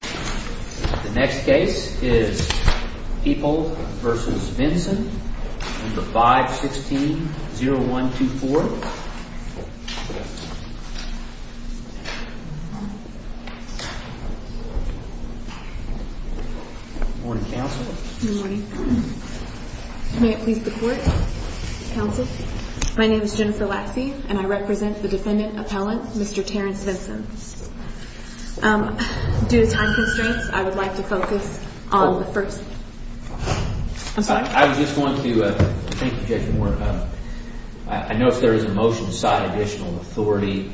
The next case is People v. Vinson, No. 516-0124. Good morning, Counsel. Good morning. May it please the Court, Counsel. My name is Jennifer Lacksey, and I represent the defendant appellant, Mr. Terrence Vinson. Due to time constraints, I would like to focus on the first. I'm sorry. I was just going to make an objection where I know if there is a motion to cite additional authority.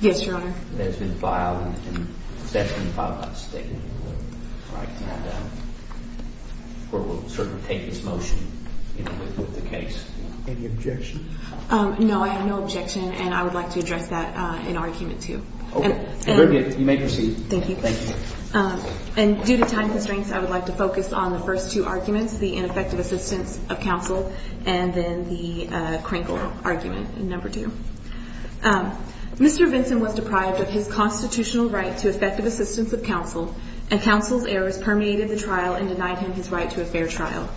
Yes, Your Honor. That has been filed, and that has been filed unstatement. The Court will certainly take this motion with the case. Any objection? No, I have no objection, and I would like to address that in argument, too. Okay. Very good. You may proceed. Thank you. Thank you. And due to time constraints, I would like to focus on the first two arguments, the ineffective assistance of counsel and then the Krinkle argument in No. 2. Mr. Vinson was deprived of his constitutional right to effective assistance of counsel, and counsel's errors permeated the trial and denied him his right to a fair trial.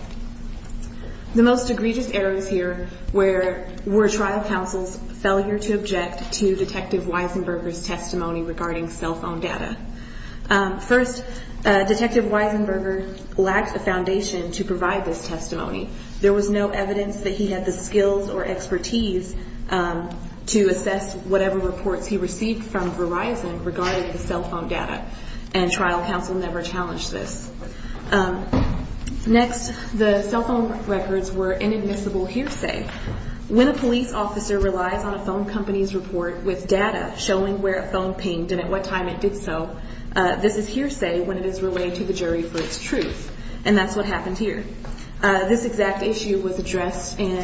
The most egregious errors here were trial counsel's failure to object to Detective Weisenberger's testimony regarding cell phone data. First, Detective Weisenberger lacked the foundation to provide this testimony. There was no evidence that he had the skills or expertise to assess whatever reports he received from Verizon regarding the cell phone data, and trial counsel never challenged this. Next, the cell phone records were inadmissible hearsay. When a police officer relies on a phone company's report with data showing where a phone pinged and at what time it did so, this is hearsay when it is relayed to the jury for its truth, and that's what happened here. This exact issue was addressed in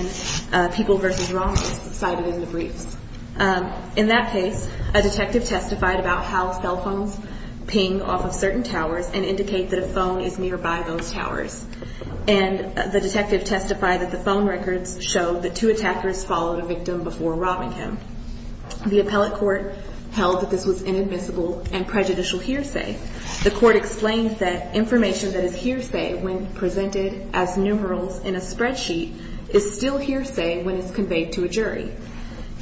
People v. Robbers cited in the briefs. In that case, a detective testified about how cell phones ping off of certain towers and indicate that a phone is nearby those towers, and the detective testified that the phone records showed that two attackers followed a victim before robbing him. The appellate court held that this was inadmissible and prejudicial hearsay. The court explained that information that is hearsay when presented as numerals in a spreadsheet is still hearsay when it's conveyed to a jury.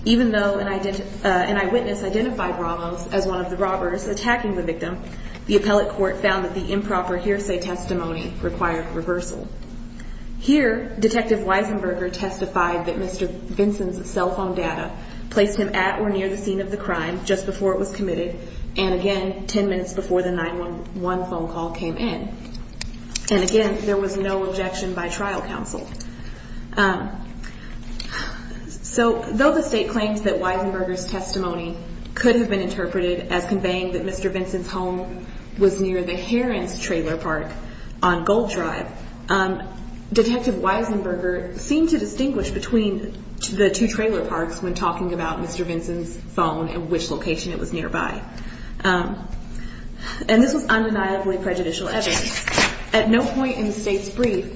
Even though an eyewitness identified Ramos as one of the robbers attacking the victim, the appellate court found that the improper hearsay testimony required reversal. Here, Detective Weisenberger testified that Mr. Vinson's cell phone data placed him at or near the scene of the crime just before it was committed and, again, 10 minutes before the 911 phone call came in. And, again, there was no objection by trial counsel. So though the state claims that Weisenberger's testimony could have been interpreted as conveying that Mr. Vinson's home was near the Heron's trailer park on Gold Drive, Detective Weisenberger seemed to distinguish between the two trailer parks when talking about Mr. Vinson's phone and which location it was nearby. And this was undeniably prejudicial evidence. At no point in the state's brief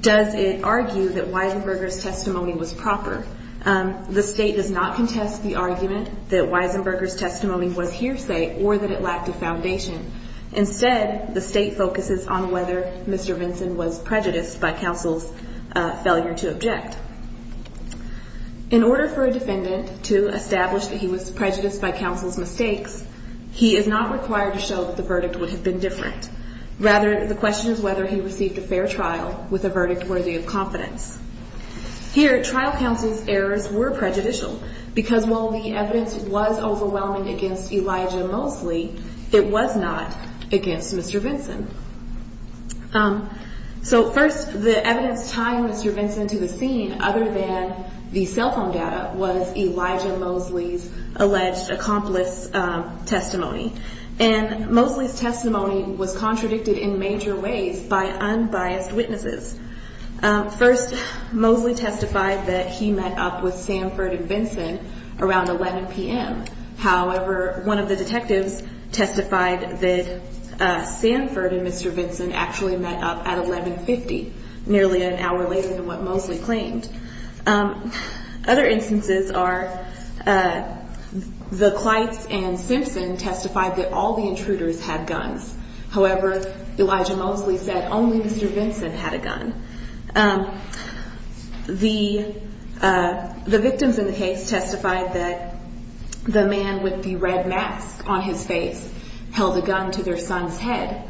does it argue that Weisenberger's testimony was proper. The state does not contest the argument that Weisenberger's testimony was hearsay or that it lacked a foundation. Instead, the state focuses on whether Mr. Vinson was prejudiced by counsel's failure to object. In order for a defendant to establish that he was prejudiced by counsel's mistakes, he is not required to show that the verdict would have been different. Rather, the question is whether he received a fair trial with a verdict worthy of confidence. Here, trial counsel's errors were prejudicial, because while the evidence was overwhelming against Elijah Mosley, it was not against Mr. Vinson. So first, the evidence tying Mr. Vinson to the scene other than the cell phone data was Elijah Mosley's alleged accomplice's testimony. And Mosley's testimony was contradicted in major ways by unbiased witnesses. First, Mosley testified that he met up with Sanford and Vinson around 11 p.m. However, one of the detectives testified that Sanford and Mr. Vinson actually met up at 11.50, nearly an hour later than what Mosley claimed. Other instances are the Kleitz and Simpson testified that all the intruders had guns. However, Elijah Mosley said only Mr. Vinson had a gun. The victims in the case testified that the man with the red mask on his face held a gun to their son's head.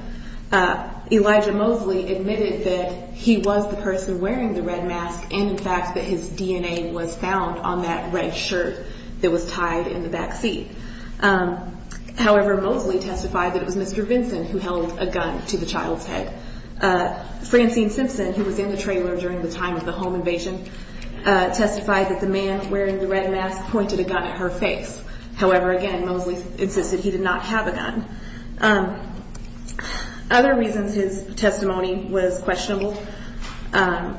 Elijah Mosley admitted that he was the person wearing the red mask, and in fact that his DNA was found on that red shirt that was tied in the backseat. However, Mosley testified that it was Mr. Vinson who held a gun to the child's head. Francine Simpson, who was in the trailer during the time of the home invasion, testified that the man wearing the red mask pointed a gun at her face. However, again, Mosley insisted he did not have a gun. Other reasons his testimony was questionable, Elijah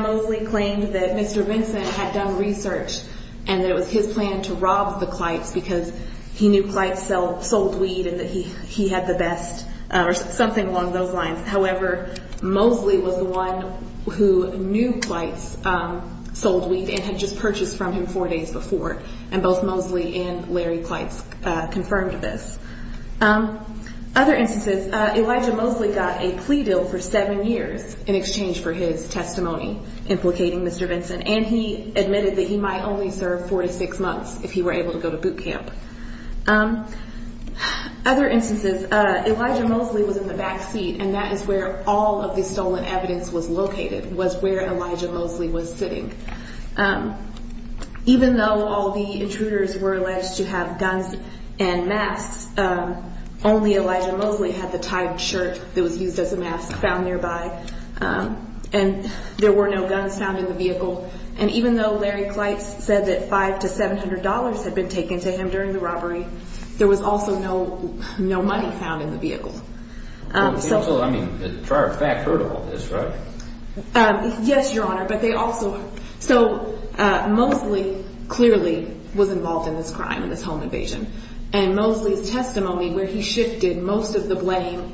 Mosley claimed that Mr. Vinson had done research and that it was his plan to rob the Kleitz because he knew Kleitz sold weed and that he had the best, or something along those lines. However, Mosley was the one who knew Kleitz sold weed and had just purchased from him four days before, and both Mosley and Larry Kleitz confirmed this. Other instances, Elijah Mosley got a plea deal for seven years in exchange for his testimony implicating Mr. Vinson, and he admitted that he might only serve four to six months if he were able to go to boot camp. Other instances, Elijah Mosley was in the backseat, and that is where all of the stolen evidence was located, was where Elijah Mosley was sitting. Even though all the intruders were alleged to have guns and masks, only Elijah Mosley had the tied shirt that was used as a mask found nearby, and there were no guns found in the vehicle. And even though Larry Kleitz said that five to seven hundred dollars had been taken to him during the robbery, there was also no money found in the vehicle. So, I mean, the fact heard all this, right? Yes, Your Honor, but they also... So, Mosley clearly was involved in this crime, in this home invasion, and Mosley's testimony where he shifted most of the blame...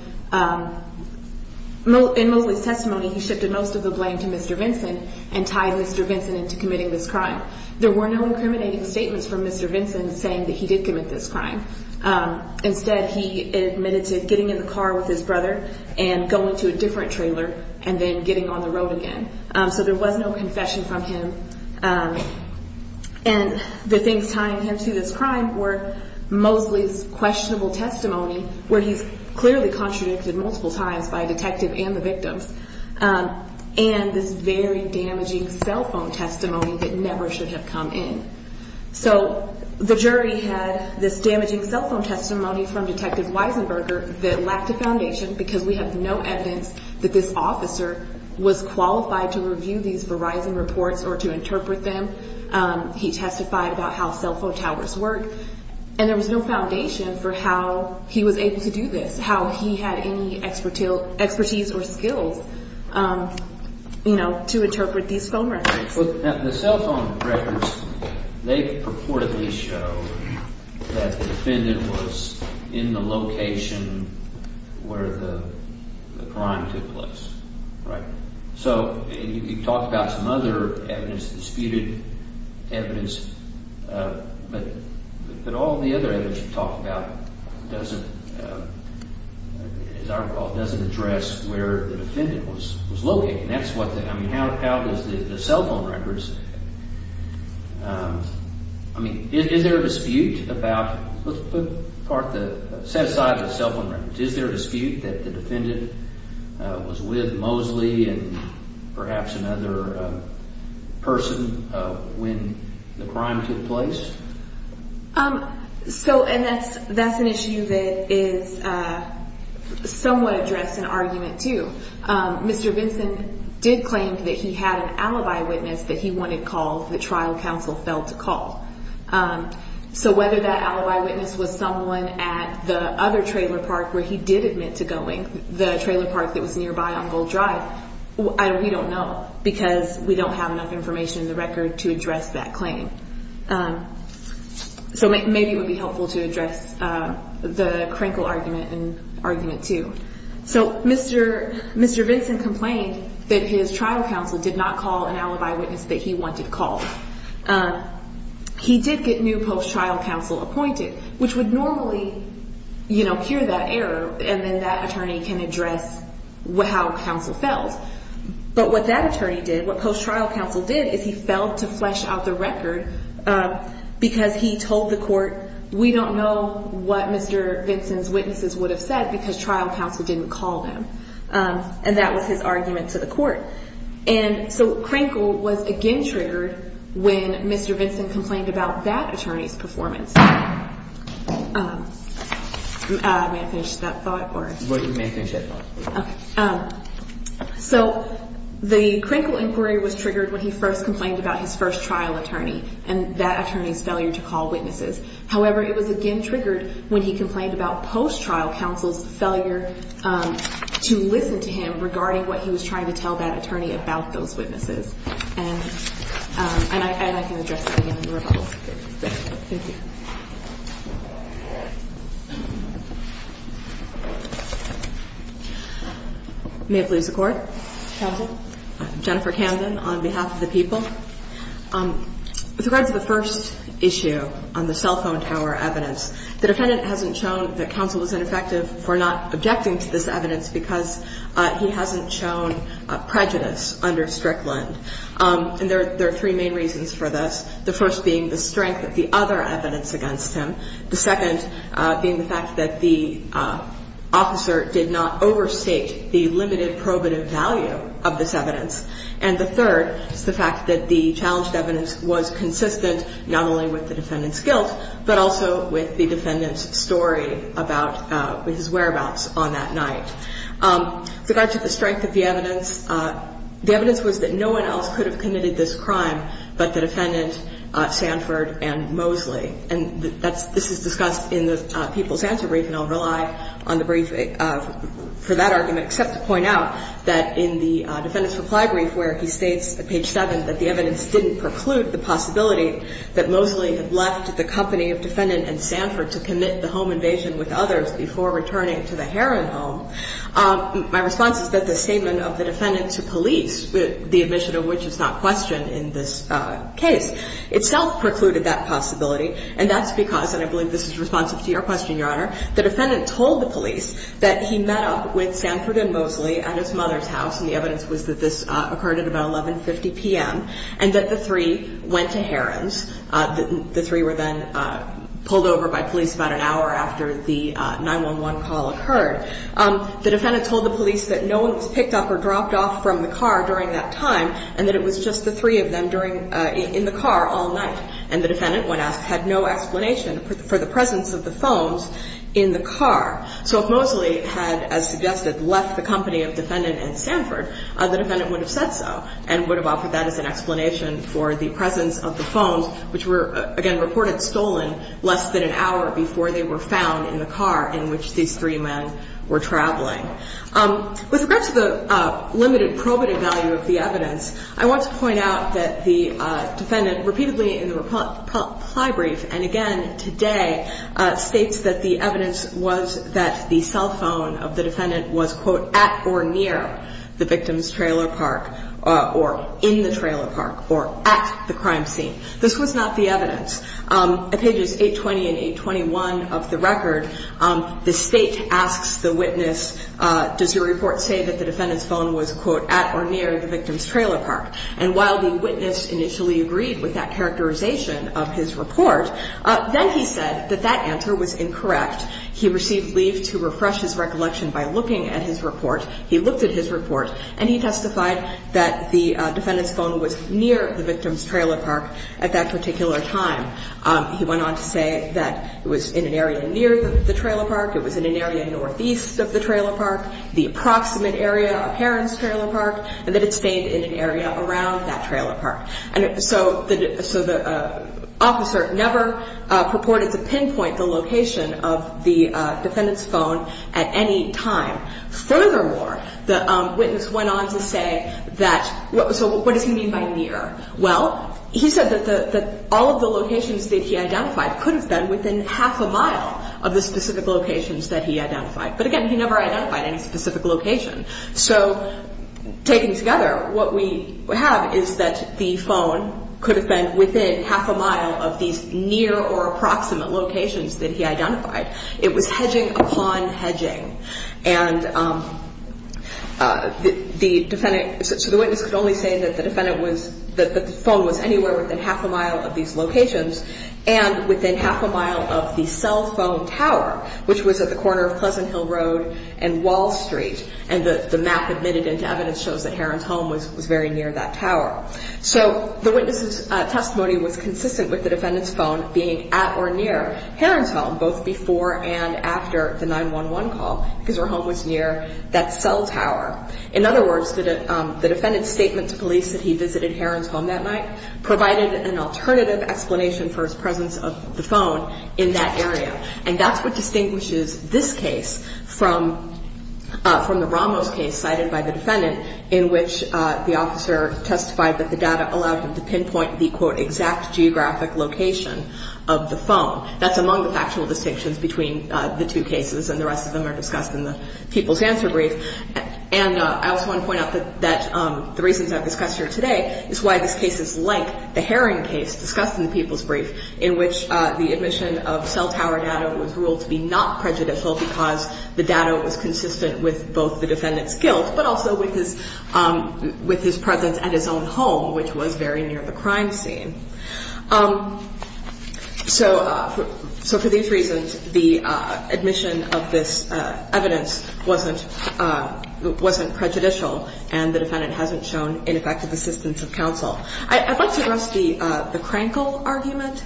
In Mosley's testimony, he shifted most of the blame to Mr. Vinson and tied Mr. Vinson into committing this crime. There were no incriminating statements from Mr. Vinson saying that he did commit this crime. Instead, he admitted to getting in the car with his brother and going to a different trailer and then getting on the road again. So, there was no confession from him. And the things tying him to this crime were Mosley's questionable testimony, where he's clearly contradicted multiple times by a detective and the victims, and this very damaging cell phone testimony that never should have come in. So, the jury had this damaging cell phone testimony from Detective Weisenberger that lacked a foundation because we have no evidence that this officer was qualified to review these Verizon reports or to interpret them. He testified about how cell phone towers work, and there was no foundation for how he was able to do this, how he had any expertise or skills, you know, to interpret these phone records. The cell phone records, they purportedly show that the defendant was in the location where the crime took place, right? So, you can talk about some other evidence, disputed evidence, but all the other evidence you talk about doesn't, as I recall, doesn't address where the defendant was located. And that's what the – I mean, how does the cell phone records – I mean, is there a dispute about – let's put the – set aside the cell phone records. Is there a dispute that the defendant was with Mosley and perhaps another person when the crime took place? So – and that's an issue that is somewhat addressed in argument, too. Mr. Vinson did claim that he had an alibi witness that he wanted called, that trial counsel failed to call. So, whether that alibi witness was someone at the other trailer park where he did admit to going, the trailer park that was nearby on Gold Drive, we don't know because we don't have enough information in the record to address that claim. So, maybe it would be helpful to address the Krenkel argument and argument, too. So, Mr. Vinson complained that his trial counsel did not call an alibi witness that he wanted called. He did get new post-trial counsel appointed, which would normally, you know, cure that error, and then that attorney can address how counsel failed. But what that attorney did, what post-trial counsel did, is he failed to flesh out the record because he told the court, we don't know what Mr. Vinson's witnesses would have said because trial counsel didn't call them. And that was his argument to the court. And so, Krenkel was again triggered when Mr. Vinson complained about that attorney's performance. May I finish that thought? You may finish that thought. Okay. So, the Krenkel inquiry was triggered when he first complained about his first trial attorney and that attorney's failure to call witnesses. However, it was again triggered when he complained about post-trial counsel's failure to listen to him regarding what he was trying to tell that attorney about those witnesses. And I can address that again in the rebuttal. Thank you. May I please have the Court? Counsel. Jennifer Camden on behalf of the people. With regards to the first issue on the cell phone tower evidence, the defendant hasn't shown that counsel was ineffective for not objecting to this evidence because he hasn't shown prejudice under Strickland. And there are three main reasons for this, the first being the strength of the other evidence against him, the second being the fact that the officer did not overstate the limited probative value of this evidence, and the third is the fact that the challenged evidence was consistent not only with the defendant's guilt but also with the defendant's story about his whereabouts on that night. With regard to the strength of the evidence, the evidence was that no one else could have committed this crime but the defendant, Sanford, and Mosley. And this is discussed in the people's answer brief, and I'll rely on the brief for that argument except to point out that in the defendant's reply brief, where he states at page 7 that the evidence didn't preclude the possibility that Mosley had left the company of defendant and Sanford to commit the home invasion with others before returning to the Heron home, my response is that the statement of the defendant to police, the admission of which is not questioned in this case, itself precluded that possibility, and that's because, and I believe this is responsive to your question, Your Honor, the defendant told the police that he met up with Sanford and Mosley at his mother's house, and the evidence was that this occurred at about 11.50 p.m., and that the three went to Heron's. The three were then pulled over by police about an hour after the 911 call occurred. The defendant told the police that no one was picked up or dropped off from the car during that time and that it was just the three of them in the car all night, and the defendant, when asked, had no explanation for the presence of the phones in the car. So if Mosley had, as suggested, left the company of defendant and Sanford, the defendant would have said so and would have offered that as an explanation for the presence of the phones, which were, again, reported stolen less than an hour before they were found in the car in which these three men were traveling. With regard to the limited probative value of the evidence, I want to point out that the defendant repeatedly in the reply brief, and again today, states that the evidence was that the cell phone of the defendant was, quote, at or near the victim's trailer park or in the trailer park or at the crime scene. This was not the evidence. At pages 820 and 821 of the record, the state asks the witness, does your report say that the defendant's phone was, quote, at or near the victim's trailer park? And while the witness initially agreed with that characterization of his report, then he said that that answer was incorrect. He received leave to refresh his recollection by looking at his report. He looked at his report, and he testified that the defendant's phone was near the victim's trailer park at that particular time. He went on to say that it was in an area near the trailer park, it was in an area northeast of the trailer park, the approximate area of Heron's trailer park, and that it stayed in an area around that trailer park. And so the officer never purported to pinpoint the location of the defendant's phone at any time. Furthermore, the witness went on to say that so what does he mean by near? Well, he said that all of the locations that he identified could have been within half a mile of the specific locations that he identified. But, again, he never identified any specific location. So taken together, what we have is that the phone could have been within half a mile of these near or approximate locations that he identified. It was hedging upon hedging. And the defendant, so the witness could only say that the defendant was, that the phone was anywhere within half a mile of these locations and within half a mile of the cell phone tower, which was at the corner of Pleasant Hill Road and Wall Street. And the map admitted into evidence shows that Heron's home was very near that tower. So the witness's testimony was consistent with the defendant's phone being at or near Heron's home, both before and after the 911 call, because her home was near that cell tower. In other words, the defendant's statement to police that he visited Heron's home that night provided an alternative explanation for his presence of the phone in that area. And that's what distinguishes this case from the Ramos case cited by the defendant, in which the officer testified that the data allowed him to pinpoint the, quote, exact geographic location of the phone. That's among the factual distinctions between the two cases, and the rest of them are discussed in the People's Answer Brief. And I also want to point out that the reasons I've discussed here today is why this case is like the Heron case discussed in the People's Brief, in which the admission of cell tower data was ruled to be not prejudicial because the data was consistent with both the defendant's guilt, but also with his presence at his own home, which was very near the crime scene. So for these reasons, the admission of this evidence wasn't prejudicial, and the defendant hasn't shown ineffective assistance of counsel. I'd like to address the Krenkel argument.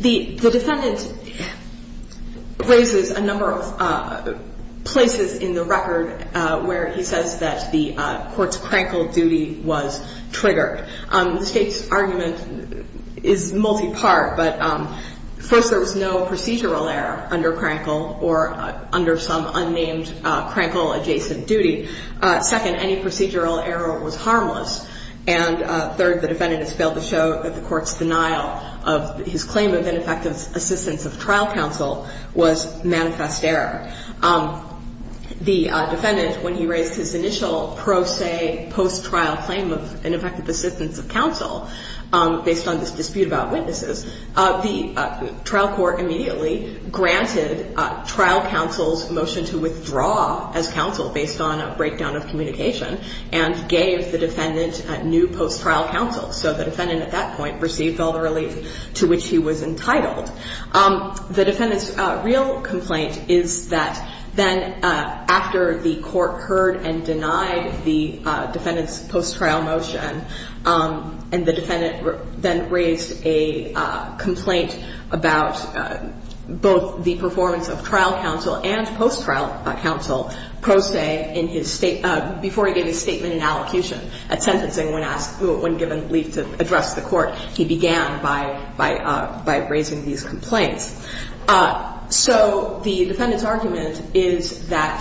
The defendant raises a number of places in the record where he says that the court's Krenkel duty was triggered. The State's argument is multipart, but first, there was no procedural error under Krenkel or under some unnamed Krenkel-adjacent duty. Second, any procedural error was harmless. And third, the defendant has failed to show that the court's denial of his claim of ineffective assistance of trial counsel was manifest error. The defendant, when he raised his initial pro se post-trial claim of ineffective assistance of counsel, based on this dispute about witnesses, the trial court immediately granted trial counsel's motion to withdraw as counsel based on a breakdown of communication and gave the defendant new post-trial counsel. So the defendant at that point received all the relief to which he was entitled. The defendant's real complaint is that then after the court heard and denied the defendant's post-trial motion and the defendant then raised a complaint about both the performance of trial counsel and post-trial counsel pro se before he gave his statement in allocution at sentencing when given relief to address the court, he began by raising these complaints. So the defendant's argument is that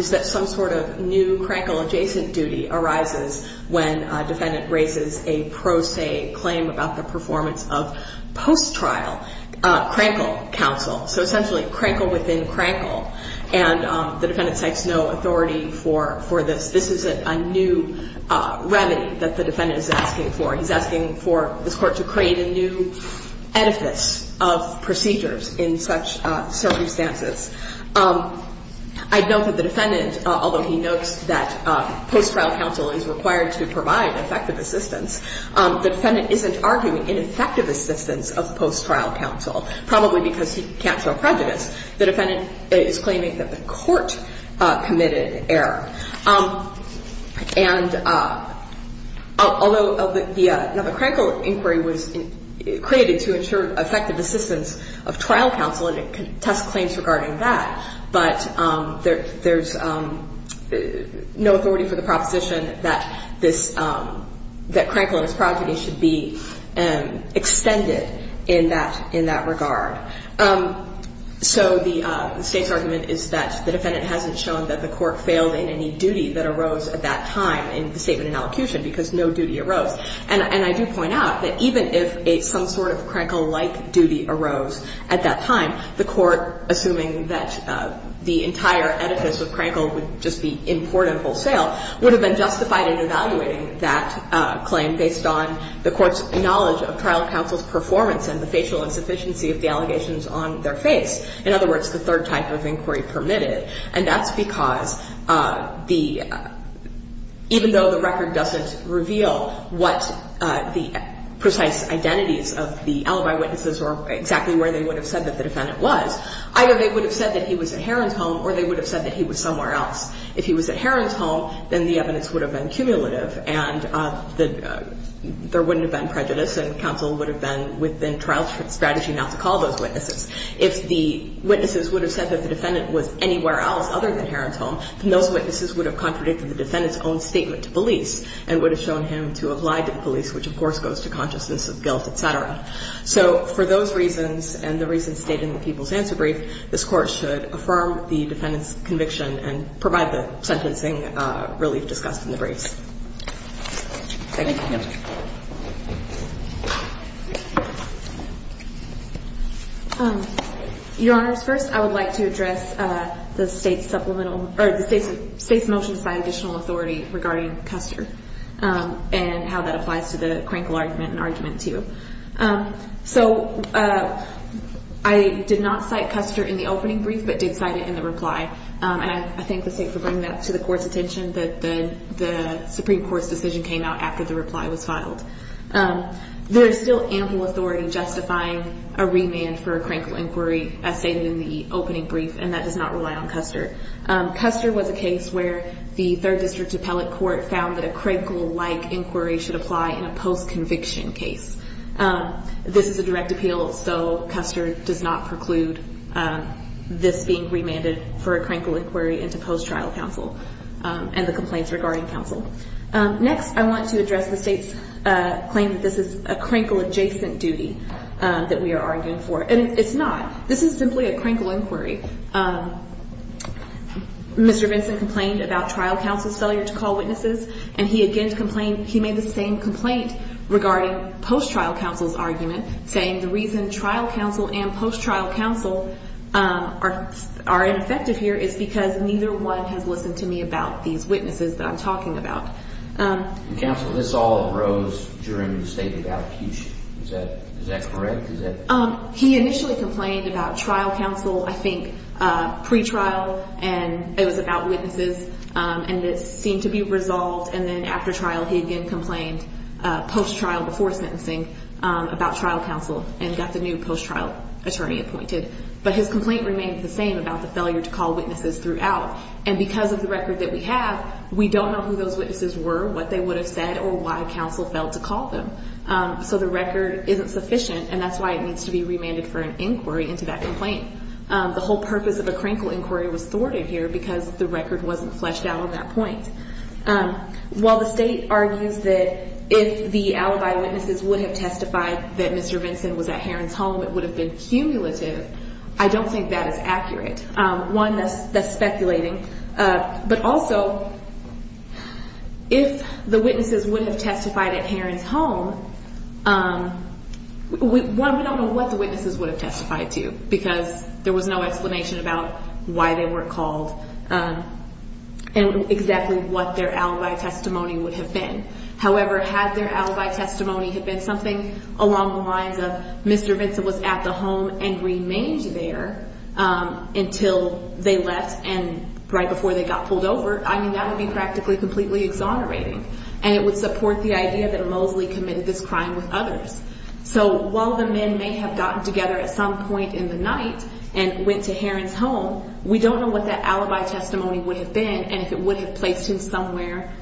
some sort of new Krenkel-adjacent duty arises when a defendant raises a pro se claim about the performance of post-trial Krenkel counsel, so essentially Krenkel within Krenkel, and the defendant takes no authority for this. This is a new remedy that the defendant is asking for. He's asking for this court to create a new edifice of procedures in such circumstances. I note that the defendant, although he notes that post-trial counsel is required to provide effective assistance, the defendant isn't arguing ineffective assistance of post-trial counsel, probably because he can't show prejudice. The defendant is claiming that the court committed an error. And although the Krenkel inquiry was created to ensure effective assistance of trial counsel and it can test claims regarding that, but there's no authority for the proposition that this, that Krenkel and his progeny should be extended in that regard. So the State's argument is that the defendant hasn't shown that the court failed in any way in any duty that arose at that time in the statement in elocution because no duty arose. And I do point out that even if some sort of Krenkel-like duty arose at that time, the court, assuming that the entire edifice of Krenkel would just be important wholesale, would have been justified in evaluating that claim based on the court's knowledge of trial counsel's performance and the facial insufficiency of the allegations on their face. In other words, the third type of inquiry permitted, and that's because the – even though the record doesn't reveal what the precise identities of the alibi witnesses or exactly where they would have said that the defendant was, either they would have said that he was at Heron's home or they would have said that he was somewhere else. If he was at Heron's home, then the evidence would have been cumulative and the – there wouldn't have been prejudice and counsel would have been within the trial strategy not to call those witnesses. If the witnesses would have said that the defendant was anywhere else other than Heron's home, then those witnesses would have contradicted the defendant's own statement to police and would have shown him to have lied to the police, which of course goes to consciousness of guilt, et cetera. So for those reasons and the reasons stated in the People's Answer Brief, this Court should affirm the defendant's conviction and provide the sentencing relief discussed in the briefs. Thank you. Your Honors, first I would like to address the State's supplemental – or the State's motions by additional authority regarding Custer and how that applies to the Crankle argument and argument 2. So I did not cite Custer in the opening brief but did cite it in the reply, and I thank the State for bringing that to the Court's attention that the Supreme Court's decision came out after the reply. There is still ample authority justifying a remand for a Crankle inquiry as stated in the opening brief, and that does not rely on Custer. Custer was a case where the Third District Appellate Court found that a Crankle-like inquiry should apply in a post-conviction case. This is a direct appeal, so Custer does not preclude this being remanded for a Crankle inquiry into post-trial counsel and the complaints regarding counsel. Next, I want to address the State's claim that this is a Crankle adjacent duty that we are arguing for, and it's not. This is simply a Crankle inquiry. Mr. Vinson complained about trial counsel's failure to call witnesses, and he again complained – he made the same complaint regarding post-trial counsel's argument, saying the reason trial counsel and post-trial counsel are ineffective here is because neither one has listened to me about these witnesses that I'm talking about. Counsel, this all arose during the state of allocution. Is that correct? He initially complained about trial counsel, I think, pre-trial, and it was about witnesses, and it seemed to be resolved, and then after trial he again complained post-trial before sentencing about trial counsel and got the new post-trial attorney appointed. But his complaint remained the same about the failure to call witnesses throughout, and because of the record that we have, we don't know who those witnesses were, what they would have said, or why counsel failed to call them. So the record isn't sufficient, and that's why it needs to be remanded for an inquiry into that complaint. The whole purpose of a Crankle inquiry was thwarted here because the evidence is not definitive. I don't think that is accurate. One, that's speculating, but also if the witnesses would have testified at Heron's home, we don't know what the witnesses would have testified to because there was no explanation about why they were called and exactly what their alibi testimony would have been. However, had their alibi testimony had been something along the lines of Mr. Vincent was at the home and remained there until they left and right before they got pulled over, I mean, that would be practically completely exonerating, and it would support the idea that Moseley committed this crime with others. So while the men may have gotten together at some point in the night and went to Heron's home, we don't know what that alibi testimony would have been and if it would have placed him somewhere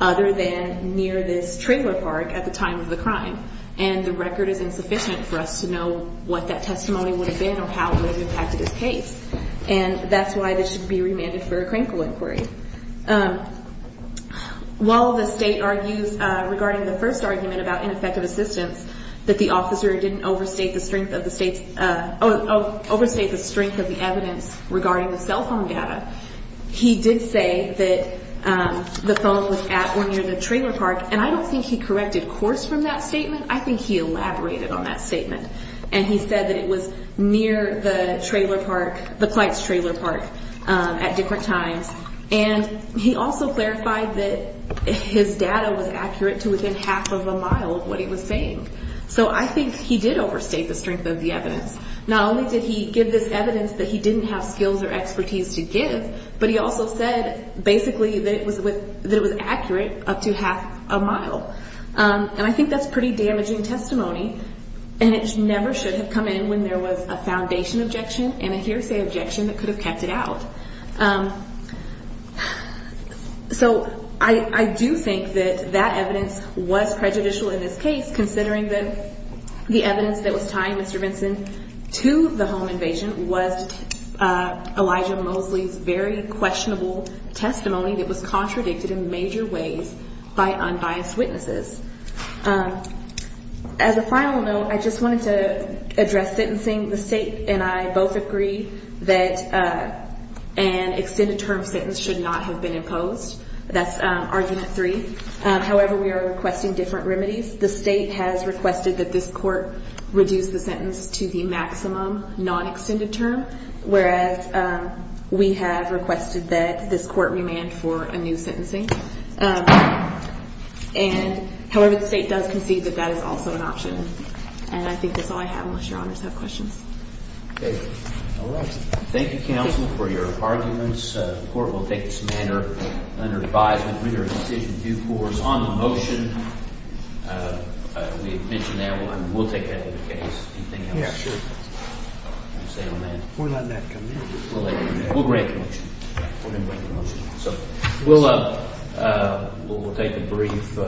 other than near this trailer park at the time of the crime. And the record is insufficient for us to know what that testimony would have been or how it would have impacted his case. And that's why this should be remanded for a Crankle inquiry. While the State argues regarding the first argument about ineffective assistance, that the officer didn't overstate the strength of the evidence regarding the cell phone data, he did say that the phone was at or near the trailer park. And I think he corrected course from that statement. I think he elaborated on that statement. And he said that it was near the trailer park, the Kleitz trailer park, at different times. And he also clarified that his data was accurate to within half of a mile of what he was saying. So I think he did overstate the strength of the evidence. Not only did he give this evidence that he didn't have skills or expertise to give, but he also said basically that it was accurate up to half a mile. And I think that's pretty damaging testimony. And it never should have come in when there was a foundation objection and a hearsay objection that could have kept it out. So I do think that that evidence was prejudicial in this case, considering that the evidence that was tying Mr. Vinson to the home invasion was Elijah Mosley's very questionable testimony that was contradicted in major ways by unbiased witnesses. As a final note, I just wanted to address sentencing. The state and I both agree that an extended term sentence should not have been imposed. That's argument three. However, we are requesting different remedies. The state has requested that this court reduce the sentence to the maximum non-extended term, whereas we have requested that this court remand for a new sentencing. And however, the state does concede that that is also an option. And I think that's all I have unless Your Honors have questions. All right. Thank you, counsel, for your arguments. The court will take this matter under advisement on the motion. We have mentioned that one. We'll take that as the case. Anything else? Yeah, sure. We're letting that come in. We'll grant the motion. We're going to grant the motion. So we'll take a brief break.